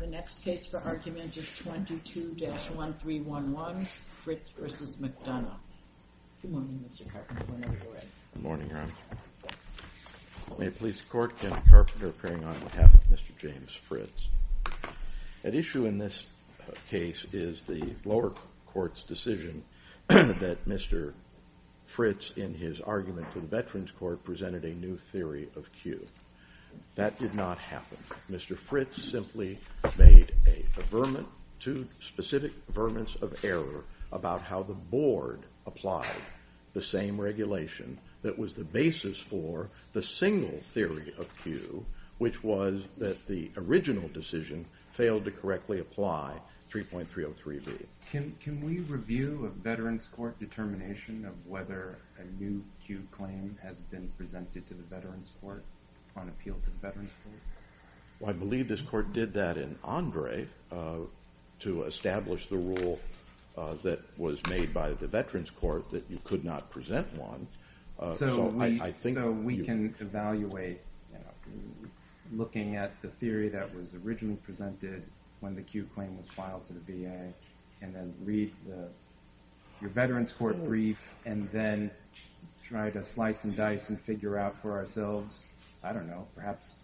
The next case for argument is 22-1311, Fritz v. McDonough. Good morning, Mr. Carpenter, whenever you're ready. Good morning, Your Honor. May it please the Court, Kenneth Carpenter appearing on behalf of Mr. James Fritz. At issue in this case is the lower court's decision that Mr. Fritz, in his argument to the Veterans Court, presented a new theory of cue. That did not happen. Mr. Fritz simply made two specific verments of error about how the Board applied the same regulation that was the basis for the single theory of cue, which was that the original decision failed to correctly apply 3.303b. Can we review a Veterans Court determination of whether a new cue claim has been presented to the Veterans Court on appeal to the Veterans Court? I believe this Court did that in Andre to establish the rule that was made by the Veterans Court that you could not present one. So we can evaluate looking at the theory that was originally presented when the cue claim was filed to the VA and then read your Veterans Court brief and then try to slice and dice and figure out for ourselves, I don't know, perhaps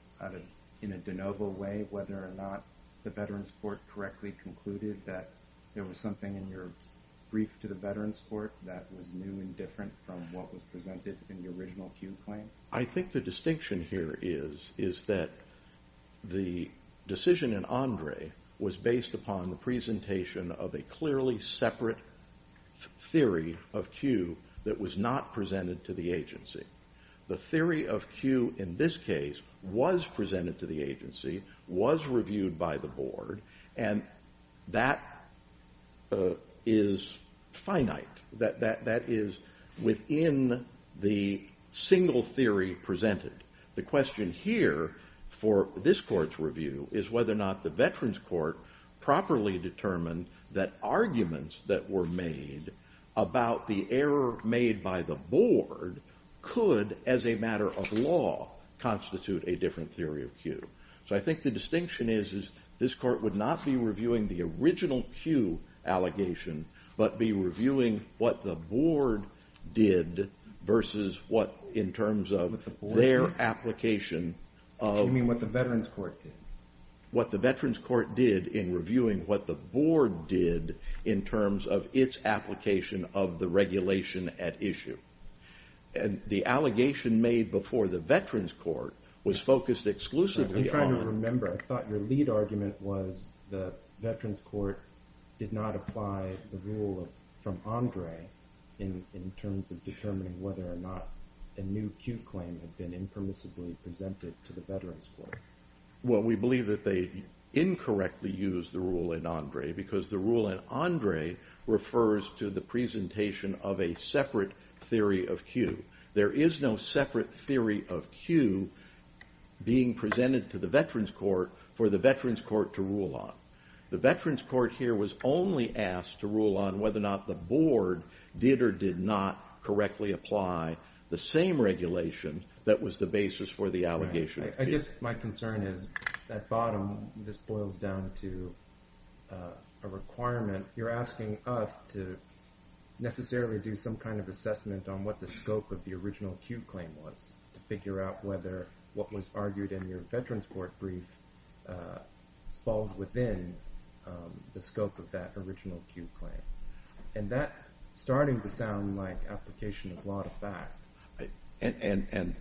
in a de novo way, whether or not the Veterans Court correctly concluded that there was something in your brief to the Veterans Court that was new and different from what was presented in the original cue claim? I think the distinction here is that the decision in Andre was based upon the presentation of a clearly separate theory of cue that was not presented to the agency. The theory of cue in this case was presented to the agency, was reviewed by the Board, and that is finite. That is within the single theory presented. The question here for this Court's review is whether or not the Veterans Court properly determined that arguments that were made about the error made by the Board could, as a matter of law, constitute a different theory of cue. So I think the distinction is this Court would not be reviewing the original cue allegation but be reviewing what the Board did versus what, in terms of their application of... You mean what the Veterans Court did? What the Veterans Court did in reviewing what the Board did in terms of its application of the regulation at issue. The allegation made before the Veterans Court was focused exclusively on... I'm trying to remember. I thought your lead argument was the Veterans Court did not apply the rule from Andre in terms of determining whether or not a new cue claim had been impermissibly presented to the Veterans Court. Well, we believe that they incorrectly used the rule in Andre because the rule in Andre refers to the presentation of a separate theory of cue. There is no separate theory of cue being presented to the Veterans Court for the Veterans Court to rule on. The Veterans Court here was only asked to rule on whether or not the Board did or did not correctly apply the same regulation that was the basis for the allegation of cue. I guess my concern is, at bottom, this boils down to a requirement. You're asking us to necessarily do some kind of assessment on what the scope of the original cue claim was to figure out whether what was argued in your Veterans Court brief falls within the scope of that original cue claim. And that's starting to sound like application of law to fact. And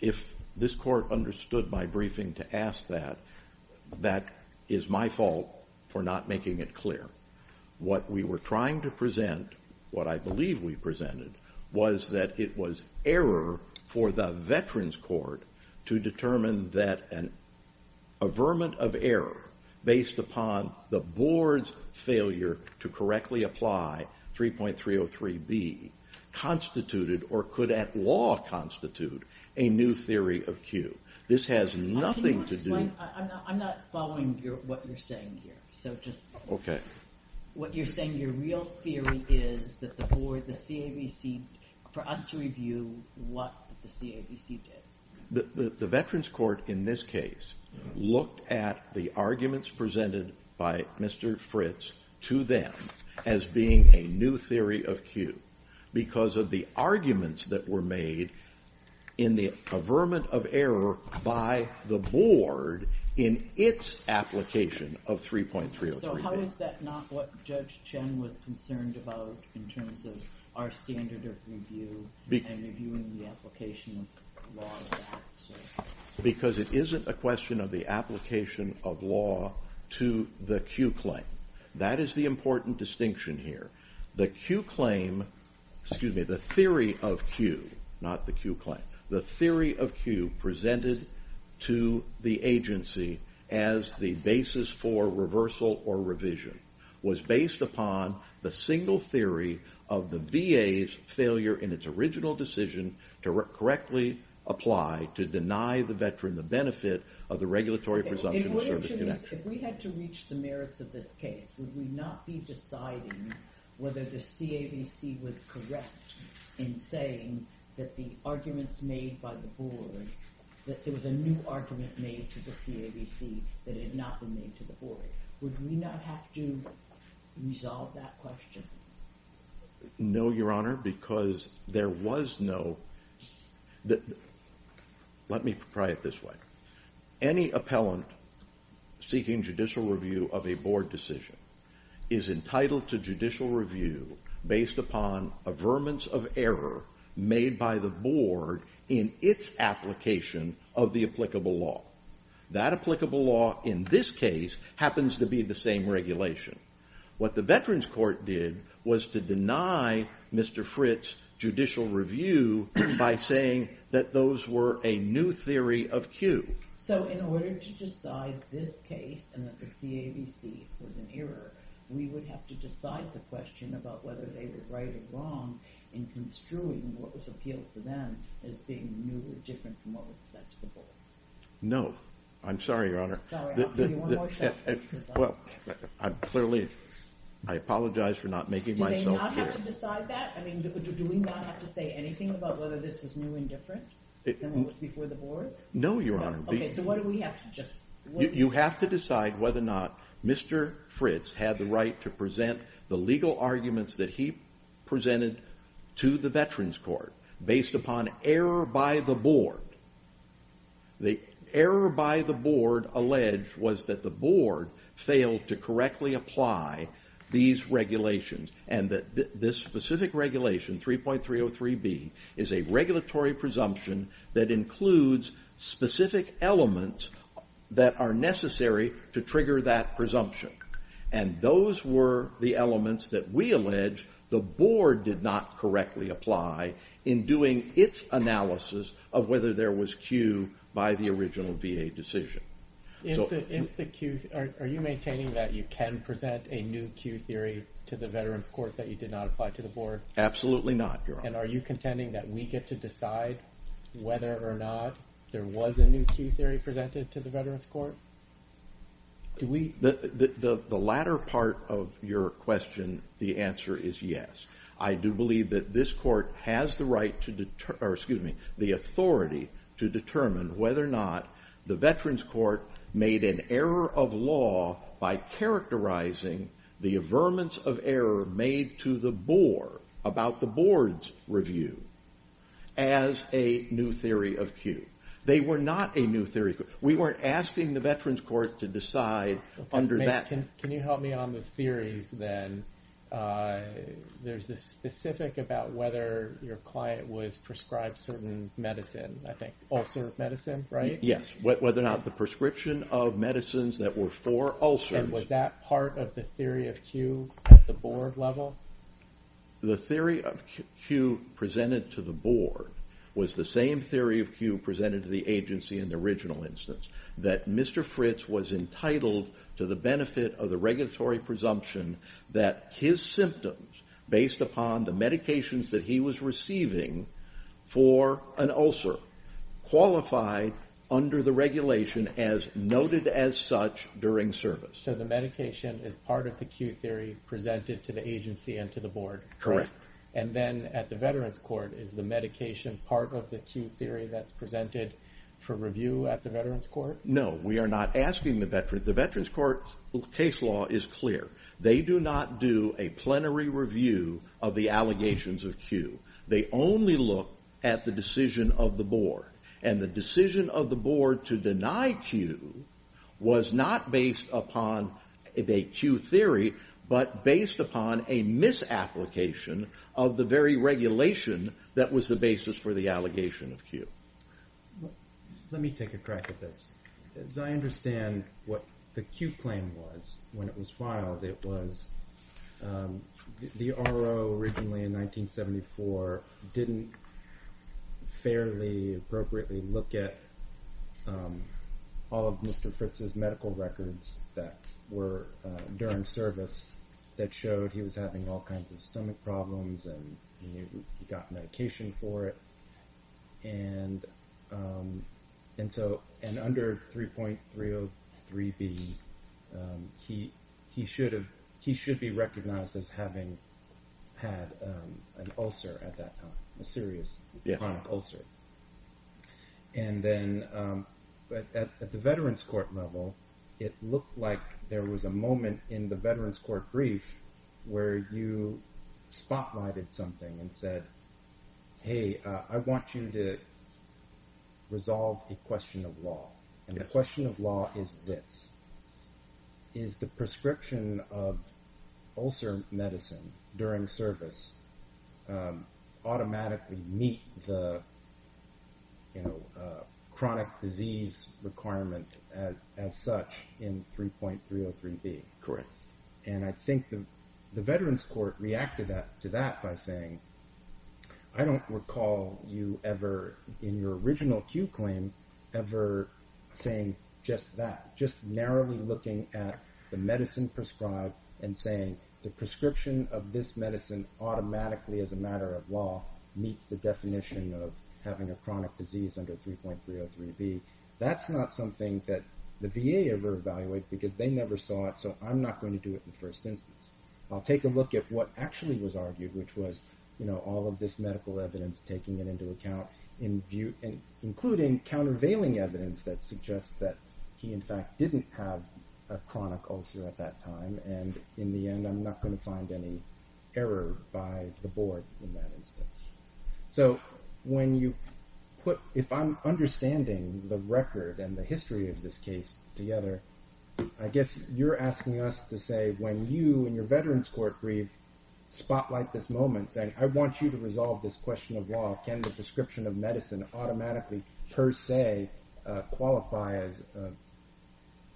if this Court understood my briefing to ask that, that is my fault for not making it clear. What we were trying to present, what I believe we presented, was that it was error for the Veterans Court to determine that an averment of error based upon the Board's failure to correctly apply 3.303B constituted, or could at law constitute, a new theory of cue. This has nothing to do... I'm not following what you're saying here. Okay. What you're saying, your real theory is that the Board, the CABC, for us to review what the CABC did. The Veterans Court, in this case, looked at the arguments presented by Mr. Fritz to them as being a new theory of cue because of the arguments that were made in the averment of error by the Board in its application of 3.303B. So how is that not what Judge Chen was concerned about in terms of our standard of review and reviewing the application of law? Because it isn't a question of the application of law to the cue claim. That is the important distinction here. The cue claim, excuse me, the theory of cue, not the cue claim, the theory of cue presented to the agency as the basis for reversal or revision was based upon the single theory of the VA's failure in its original decision to correctly apply, to deny the Veteran the benefit of the regulatory presumption of service connection. If we had to reach the merits of this case, would we not be deciding whether the CABC was correct in saying that the arguments made by the Board, that there was a new argument made to the CABC that had not been made to the Board? Would we not have to resolve that question? No, Your Honor, because there was no... Let me try it this way. Any appellant seeking judicial review of a Board decision is entitled to judicial review based upon averments of error made by the Board in its application of the applicable law. That applicable law, in this case, happens to be the same regulation. What the Veterans Court did was to deny Mr. Fritt's judicial review by saying that those were a new theory of cue. So in order to decide this case, and that the CABC was an error, we would have to decide the question about whether they were right or wrong in construing what was appealed to them as being new or different from what was said to the Board? No. I'm sorry, Your Honor. Sorry. I'll give you one more shot. Well, clearly, I apologize for not making myself clear. Do they not have to decide that? I mean, do we not have to say anything about whether this was new and different than what was before the Board? No, Your Honor. You have to decide whether or not Mr. Fritts had the right to present the legal arguments that he presented to the Veterans Court based upon error by the Board. The error by the Board alleged was that the Board failed to correctly apply these regulations, and that this specific regulation, 3.303B, is a regulatory presumption that includes specific elements that are necessary to trigger that presumption. And those were the elements that we allege the Board did not correctly apply in doing its analysis of whether there was cue by the original VA decision. If the cue... Are you maintaining that you can present a new cue theory to the Veterans Court that you did not apply to the Board? Absolutely not, Your Honor. And are you contending that we get to decide whether or not there was a new cue theory presented to the Veterans Court? Do we... The latter part of your question, the answer is yes. I do believe that this Court has the right to... or, excuse me, the authority to determine whether or not the Veterans Court made an error of law by characterizing the averments of error made to the Board about the Board's review as a new theory of cue. They were not a new theory of cue. We weren't asking the Veterans Court to decide under that... Can you help me on the theories, then? There's this specific about whether your client was prescribed certain medicine, I think, ulcer medicine, right? Yes, whether or not the prescription of medicines that were for ulcers... And was that part of the theory of cue at the Board level? The theory of cue presented to the Board was the same theory of cue presented to the agency in the original instance, that Mr. Fritz was entitled to the benefit of the regulatory presumption that his symptoms, based upon the medications that he was receiving for an ulcer, qualified under the regulation as noted as such during service. So the medication is part of the cue theory presented to the agency and to the Board? Correct. And then at the Veterans Court, is the medication part of the cue theory that's presented for review at the Veterans Court? No, we are not asking the Veterans... The Veterans Court's case law is clear. They do not do a plenary review of the allegations of cue. They only look at the decision of the Board. And the decision of the Board to deny cue was not based upon a cue theory, but based upon a misapplication of the very regulation that was the basis for the allegation of cue. Let me take a crack at this. As I understand what the cue claim was when it was filed, it was the RO originally in 1974 didn't fairly appropriately look at all of Mr. Fritz's medical records that were during service that showed he was having all kinds of stomach problems and he got medication for it. And under 3.303B, he should be recognized as having had an ulcer at that time, a serious chronic ulcer. And then at the Veterans Court level, it looked like there was a moment in the Veterans Court brief where you spotlighted something and said, hey, I want you to resolve a question of law. And the question of law is this. Is the prescription of ulcer medicine during service automatically meet the chronic disease requirement as such in 3.303B? Correct. And I think the Veterans Court reacted to that by saying, I don't recall you ever in your original cue claim ever saying just that, just narrowly looking at the medicine prescribed and saying the prescription of this medicine automatically as a matter of law meets the definition of having a chronic disease under 3.303B. That's not something that the VA ever evaluated because they never saw it, so I'm not going to do it in the first instance. I'll take a look at what actually was argued, which was all of this medical evidence, taking it into account, including countervailing evidence that suggests that he, in fact, didn't have a chronic ulcer at that time. And in the end, I'm not going to find any error by the board in that instance. So when you put, if I'm understanding the record and the history of this case together, I guess you're asking us to say when you and your Veterans Court brief spotlight this moment saying, I want you to resolve this question of law. Can the prescription of medicine automatically per se qualify as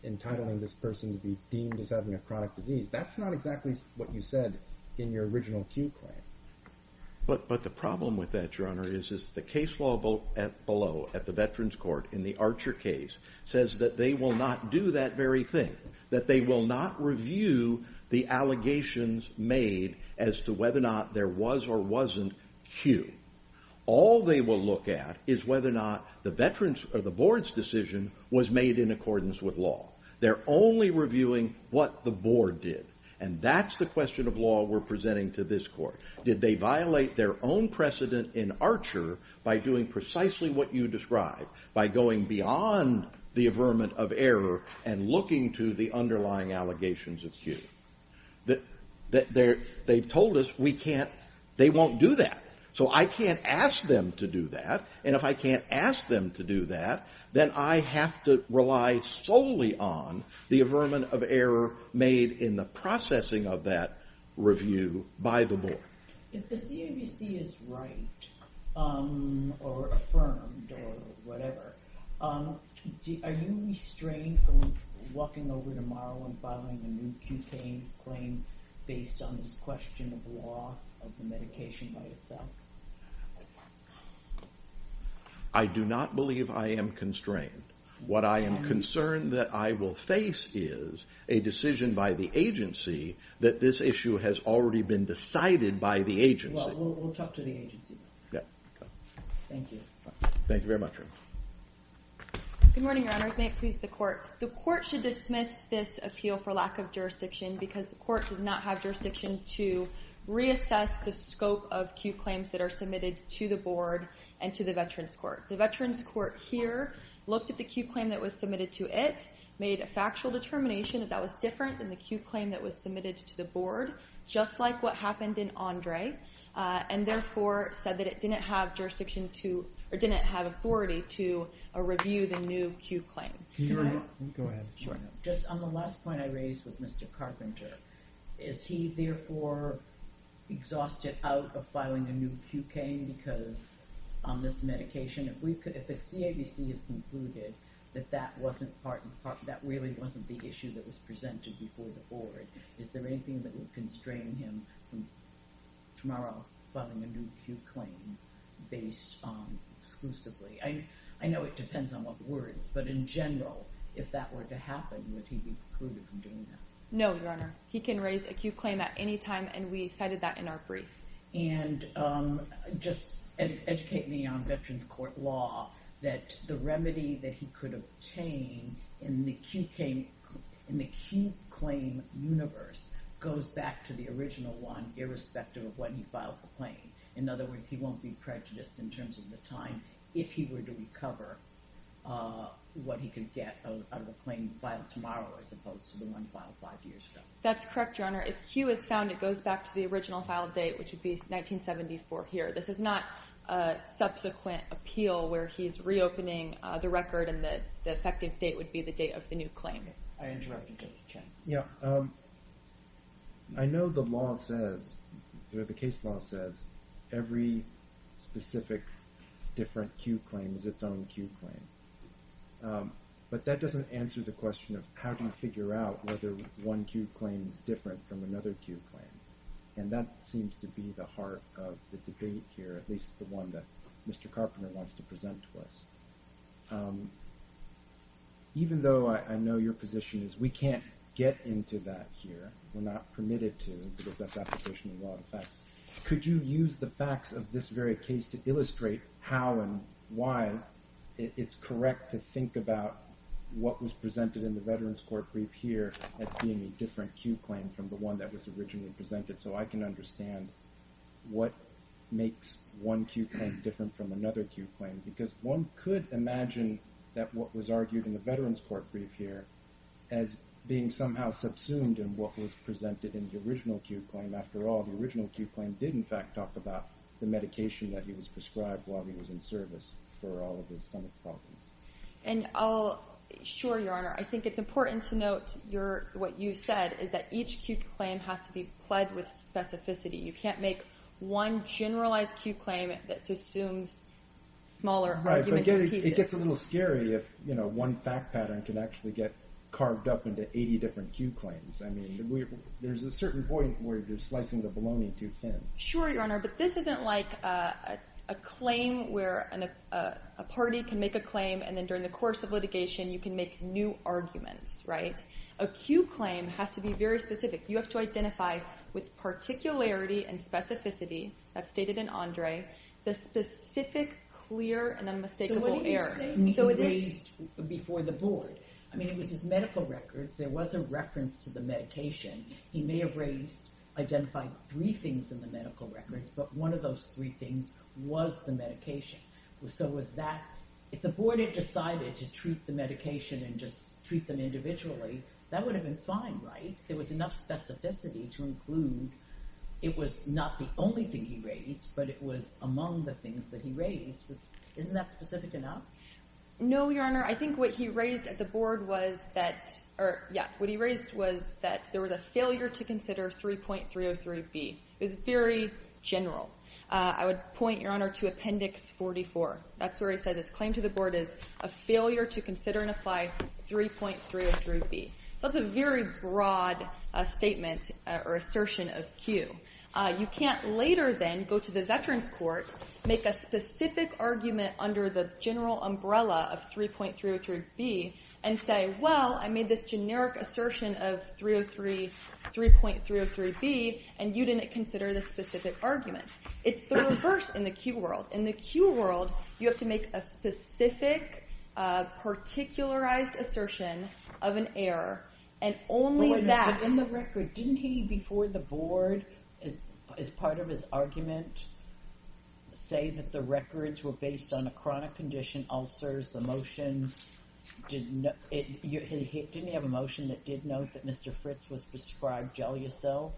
entitling this person to be deemed as having a chronic disease? That's not exactly what you said in your original Q claim. But the problem with that, Your Honor, is the case law below at the Veterans Court in the Archer case says that they will not do that very thing, that they will not review the allegations made as to whether or not there was or wasn't Q. All they will look at is whether or not the board's decision was made in accordance with law. They're only reviewing what the board did. And that's the question of law we're presenting to this court. Did they violate their own precedent in Archer by doing precisely what you described, by going beyond the averment of error and looking to the underlying allegations of Q? They've told us they won't do that. So I can't ask them to do that. And if I can't ask them to do that, then I have to rely solely on the averment of error made in the processing of that review by the board. If the CAVC is right, or affirmed, or whatever, are you restrained from walking over tomorrow and filing a new Q claim based on this question of law of the medication by itself? I do not believe I am constrained. What I am concerned that I will face is a decision by the agency that this issue has already been decided by the agency. Well, we'll talk to the agency. Thank you. Thank you very much. Good morning, Your Honors. May it please the Court. The Court should dismiss this appeal for lack of jurisdiction because the Court does not have jurisdiction to reassess the scope of Q claims that are submitted to the board and to the Veterans Court. The Veterans Court here looked at the Q claim that was submitted to it, made a factual determination that that was different than the Q claim that was submitted to the board, just like what happened in Andre, and therefore said that it didn't have jurisdiction to, or didn't have authority to review the new Q claim. Go ahead. Just on the last point I raised with Mr. Carpenter, is he therefore exhausted out of filing a new Q claim because on this medication, if the CAVC has concluded that that really wasn't the issue that was presented before the board, is there anything that would constrain him from tomorrow filing a new Q claim based exclusively? I know it depends on what words, but in general, if that were to happen, would he be excluded from doing that? No, Your Honor. He can raise a Q claim at any time, and we cited that in our brief. And just educate me on Veterans Court law that the remedy that he could obtain in the Q claim universe goes back to the original one irrespective of when he files the claim. In other words, he won't be prejudiced in terms of the time if he were to recover what he could get out of the claim by tomorrow as opposed to the one filed 5 years ago. That's correct, Your Honor. If Q is found, it goes back to the original file date, which would be 1974 here. This is not a subsequent appeal where he's reopening the record and the effective date would be the date of the new claim. I interrupted you. I know the law says, the case law says, every specific different Q claim is its own Q claim. But that doesn't answer the question of how do you figure out whether one Q claim is different from another Q claim. And that seems to be the heart of the debate here, at least the one that Mr. Carpenter wants to present to us. Even though I know your position is we can't get into that here, we're not permitted to because that's application of law and facts, could you use the facts of this very case to illustrate how and why it's correct to think about what was presented in the veterans court brief here as being a different Q claim from the one that was originally presented so I can understand what makes one Q claim different from another Q claim. Because one could imagine that what was argued in the veterans court brief here as being somehow subsumed in what was presented in the original Q claim. After all, the original Q claim did in fact talk about the medication that he was prescribed while he was in service for all of his stomach problems. And I'll, sure Your Honor, I think it's important to note what you said is that each Q claim has to be pledged with specificity. You can't make one generalized Q claim that subsumes smaller arguments. Right, but it gets a little scary if, you know, one fact pattern can actually get carved up into 80 different Q claims. I mean, there's a certain point where you're slicing the bologna too thin. Sure, Your Honor, but this isn't like a claim where a party can make a claim and then during the course of litigation you can make new arguments, right? A Q claim has to be very specific. You have to identify with particularity and specificity, as stated in Andre, the specific, clear, and unmistakable error. So what do you say he raised before the board? I mean, it was his medical records. There was a reference to the medication. He may have raised, identified three things in the medical records, but one of those three things was the medication. So was that, if the board had decided to treat the medication and just treat them individually, that would have been fine, right? There was enough specificity to include it was not the only thing he raised, but it was among the things that he raised. Isn't that specific enough? No, Your Honor, I think what he raised at the board was that, what he raised was that there was a failure to consider 3.303B. It was very general. I would point, Your Honor, to Appendix 44. That's where he says his claim to the board is a failure to consider and apply 3.303B. So that's a very broad statement or assertion of Q. You can't later then go to the Veterans Court, make a specific argument under the general umbrella of 3.303B, and say, well, I made this generic assertion of 3.303B, and you didn't consider this specific argument. It's the reverse in the Q world. In the Q world, you have to make a specific, particularized assertion of an error, and only that. But in the record, didn't he, before the board, as part of his argument, say that the records were based on a chronic condition, ulcers, emotions? Didn't he have a motion that did note that Mr. Fritz was prescribed Gelyasil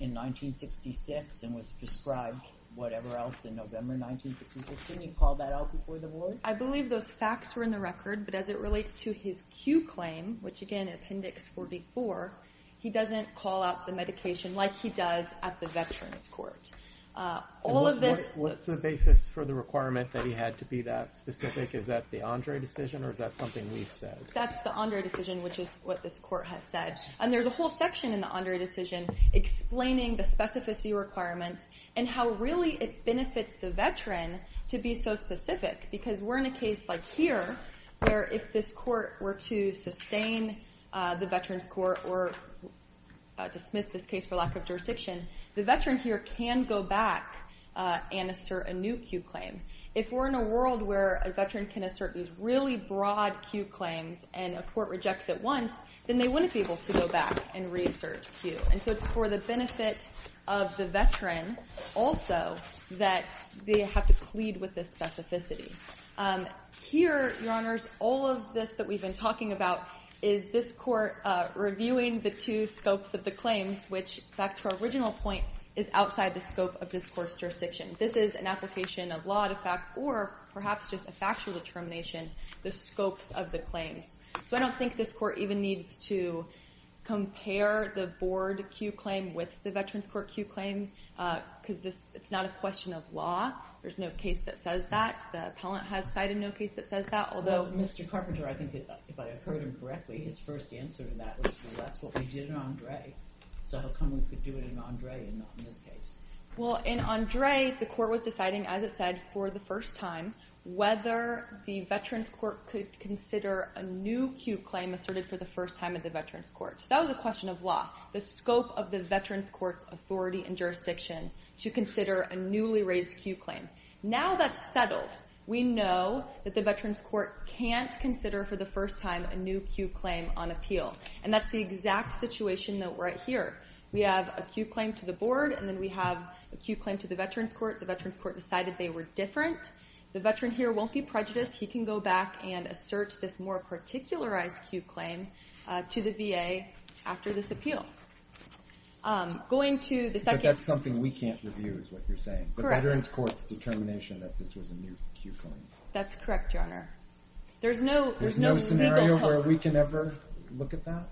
in 1966 and was prescribed whatever else in November 1966? Didn't he call that out before the board? I believe those facts were in the record. But as it relates to his Q claim, which, again, Appendix 44, he doesn't call out the medication like he does at the Veterans Court. What's the basis for the requirement that he had to be that specific? Is that the Andre decision, or is that something we've said? That's the Andre decision, which is what this court has said. And there's a whole section in the Andre decision explaining the specificity requirements and how really it benefits the veteran to be so specific because we're in a case like here where if this court were to sustain the Veterans Court or dismiss this case for lack of jurisdiction, the veteran here can go back and assert a new Q claim. If we're in a world where a veteran can assert these really broad Q claims and a court rejects it once, then they wouldn't be able to go back and reassert Q. And so it's for the benefit of the veteran also that they have to plead with this specificity. Here, Your Honors, all of this that we've been talking about is this court reviewing the two scopes of the claims, which, back to our original point, is outside the scope of discourse jurisdiction. This is an application of law to fact, or perhaps just a factual determination, the scopes of the claims. So I don't think this court even needs to compare the board Q claim with the Veterans Court Q claim because it's not a question of law. There's no case that says that. The appellant has cited no case that says that. Although Mr. Carpenter, I think if I heard him correctly, his first answer to that was, well, that's what we did in Andre. So how come we could do it in Andre and not in this case? Well, in Andre, the court was deciding, as I said, for the first time, whether the Veterans Court could consider a new Q claim asserted for the first time at the Veterans Court. That was a question of law, the scope of the Veterans Court's authority and jurisdiction to consider a newly raised Q claim. Now that's settled. We know that the Veterans Court can't consider for the first time a new Q claim on appeal. And that's the exact situation that we're at here. We have a Q claim to the board, and then we have a Q claim to the Veterans Court. The Veterans Court decided they were different. The veteran here won't be prejudiced. He can go back and assert this more particularized Q claim to the VA after this appeal. But that's something we can't review is what you're saying, the Veterans Court's determination that this was a new Q claim. That's correct, Your Honor. There's no scenario where we can ever look at that?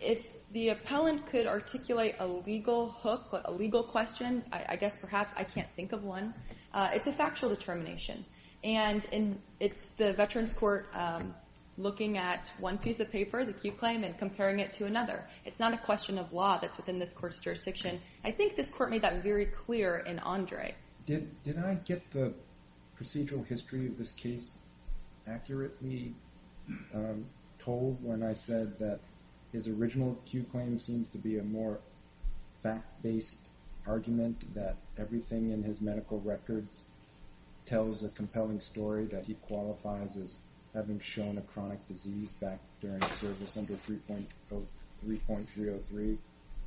If the appellant could articulate a legal hook, a legal question, I guess perhaps I can't think of one, it's a factual determination. And it's the Veterans Court looking at one piece of paper, the Q claim, and comparing it to another. It's not a question of law that's within this court's jurisdiction. I think this court made that very clear in Andre. Did I get the procedural history of this case accurately told when I said that his original Q claim seems to be a more fact-based argument, that everything in his medical records tells a compelling story, that he qualifies as having shown a chronic disease back during service under 3.303,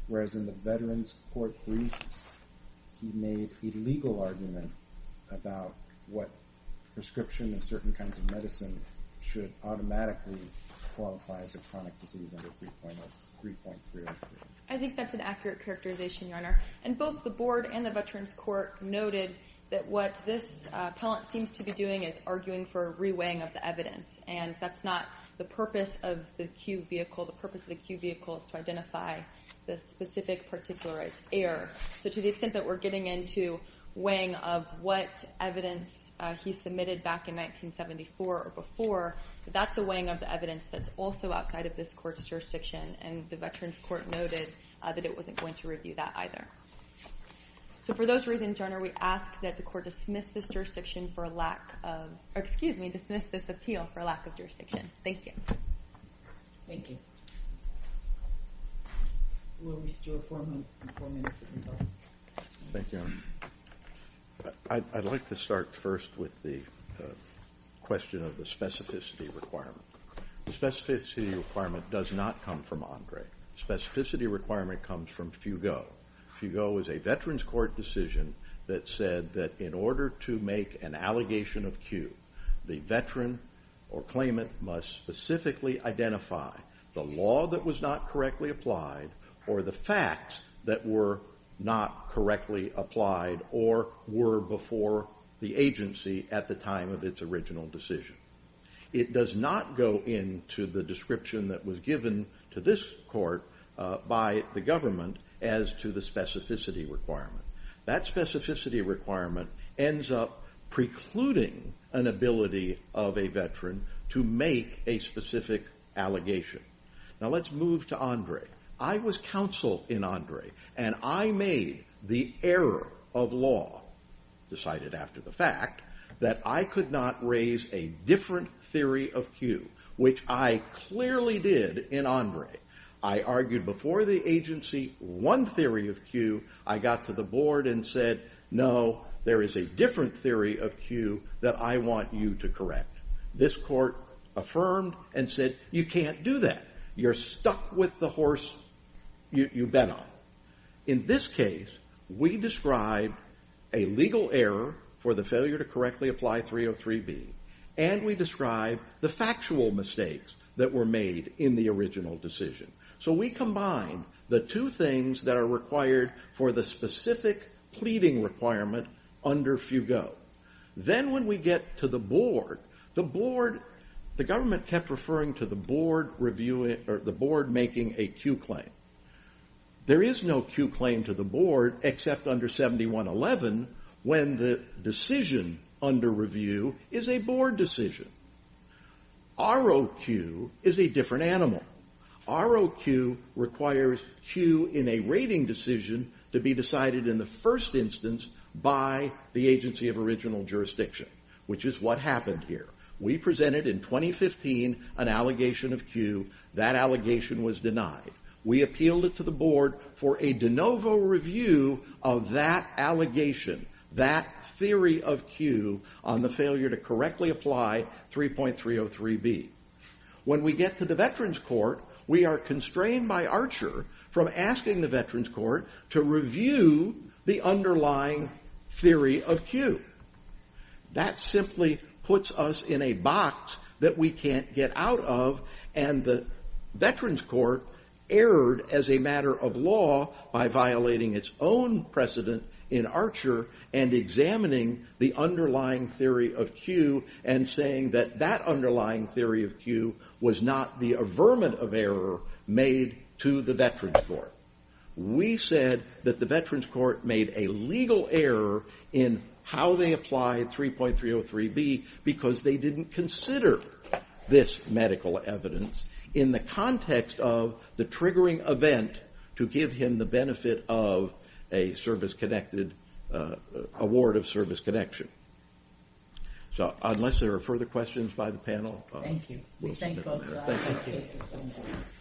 whereas in the Veterans Court brief he made a legal argument about what prescription of certain kinds of medicine should automatically qualify as a chronic disease under 3.303. I think that's an accurate characterization, Your Honor. And both the Board and the Veterans Court noted that what this appellant seems to be doing is arguing for re-weighing of the evidence. And that's not the purpose of the Q vehicle. It's to identify the specific particularized error. So to the extent that we're getting into weighing of what evidence he submitted back in 1974 or before, that's a weighing of the evidence that's also outside of this court's jurisdiction, and the Veterans Court noted that it wasn't going to review that either. So for those reasons, Your Honor, we ask that the court dismiss this appeal for lack of jurisdiction. Thank you. Thank you. I'd like to start first with the question of the specificity requirement. The specificity requirement does not come from Andre. The specificity requirement comes from Fugot. Fugot is a Veterans Court decision that said that in order to make an allegation of Q, the veteran or claimant must specifically identify the law that was not correctly applied or the facts that were not correctly applied or were before the agency at the time of its original decision. It does not go into the description that was given to this court by the government as to the specificity requirement. That specificity requirement ends up precluding an ability of a veteran to make a specific allegation. Now let's move to Andre. I was counsel in Andre, and I made the error of law, decided after the fact, that I could not raise a different theory of Q, which I clearly did in Andre. I argued before the agency one theory of Q. I got to the board and said, no, there is a different theory of Q that I want you to correct. This court affirmed and said, you can't do that. You're stuck with the horse you bet on. In this case, we described a legal error for the failure to correctly apply 303B, and we described the factual mistakes that were made in the original decision. So we combined the two things that are required for the specific pleading requirement under Fugot. Then when we get to the board, the government kept referring to the board making a Q claim. There is no Q claim to the board except under 7111 when the decision under review is a board decision. ROQ is a different animal. ROQ requires Q in a rating decision to be decided in the first instance by the agency of original jurisdiction, which is what happened here. We presented in 2015 an allegation of Q. That allegation was denied. We appealed it to the board for a de novo review of that allegation, that theory of Q on the failure to correctly apply 3.303B. When we get to the Veterans Court, we are constrained by Archer from asking the Veterans Court to review the underlying theory of Q. That simply puts us in a box that we can't get out of, and the Veterans Court erred as a matter of law by violating its own precedent in Archer and examining the underlying theory of Q and saying that that underlying theory of Q was not the averment of error made to the Veterans Court. We said that the Veterans Court made a legal error in how they applied 3.303B because they didn't consider this medical evidence in the context of the triggering event to give him the benefit of an award of service connection. Unless there are further questions by the panel, we'll stop there. Thank you.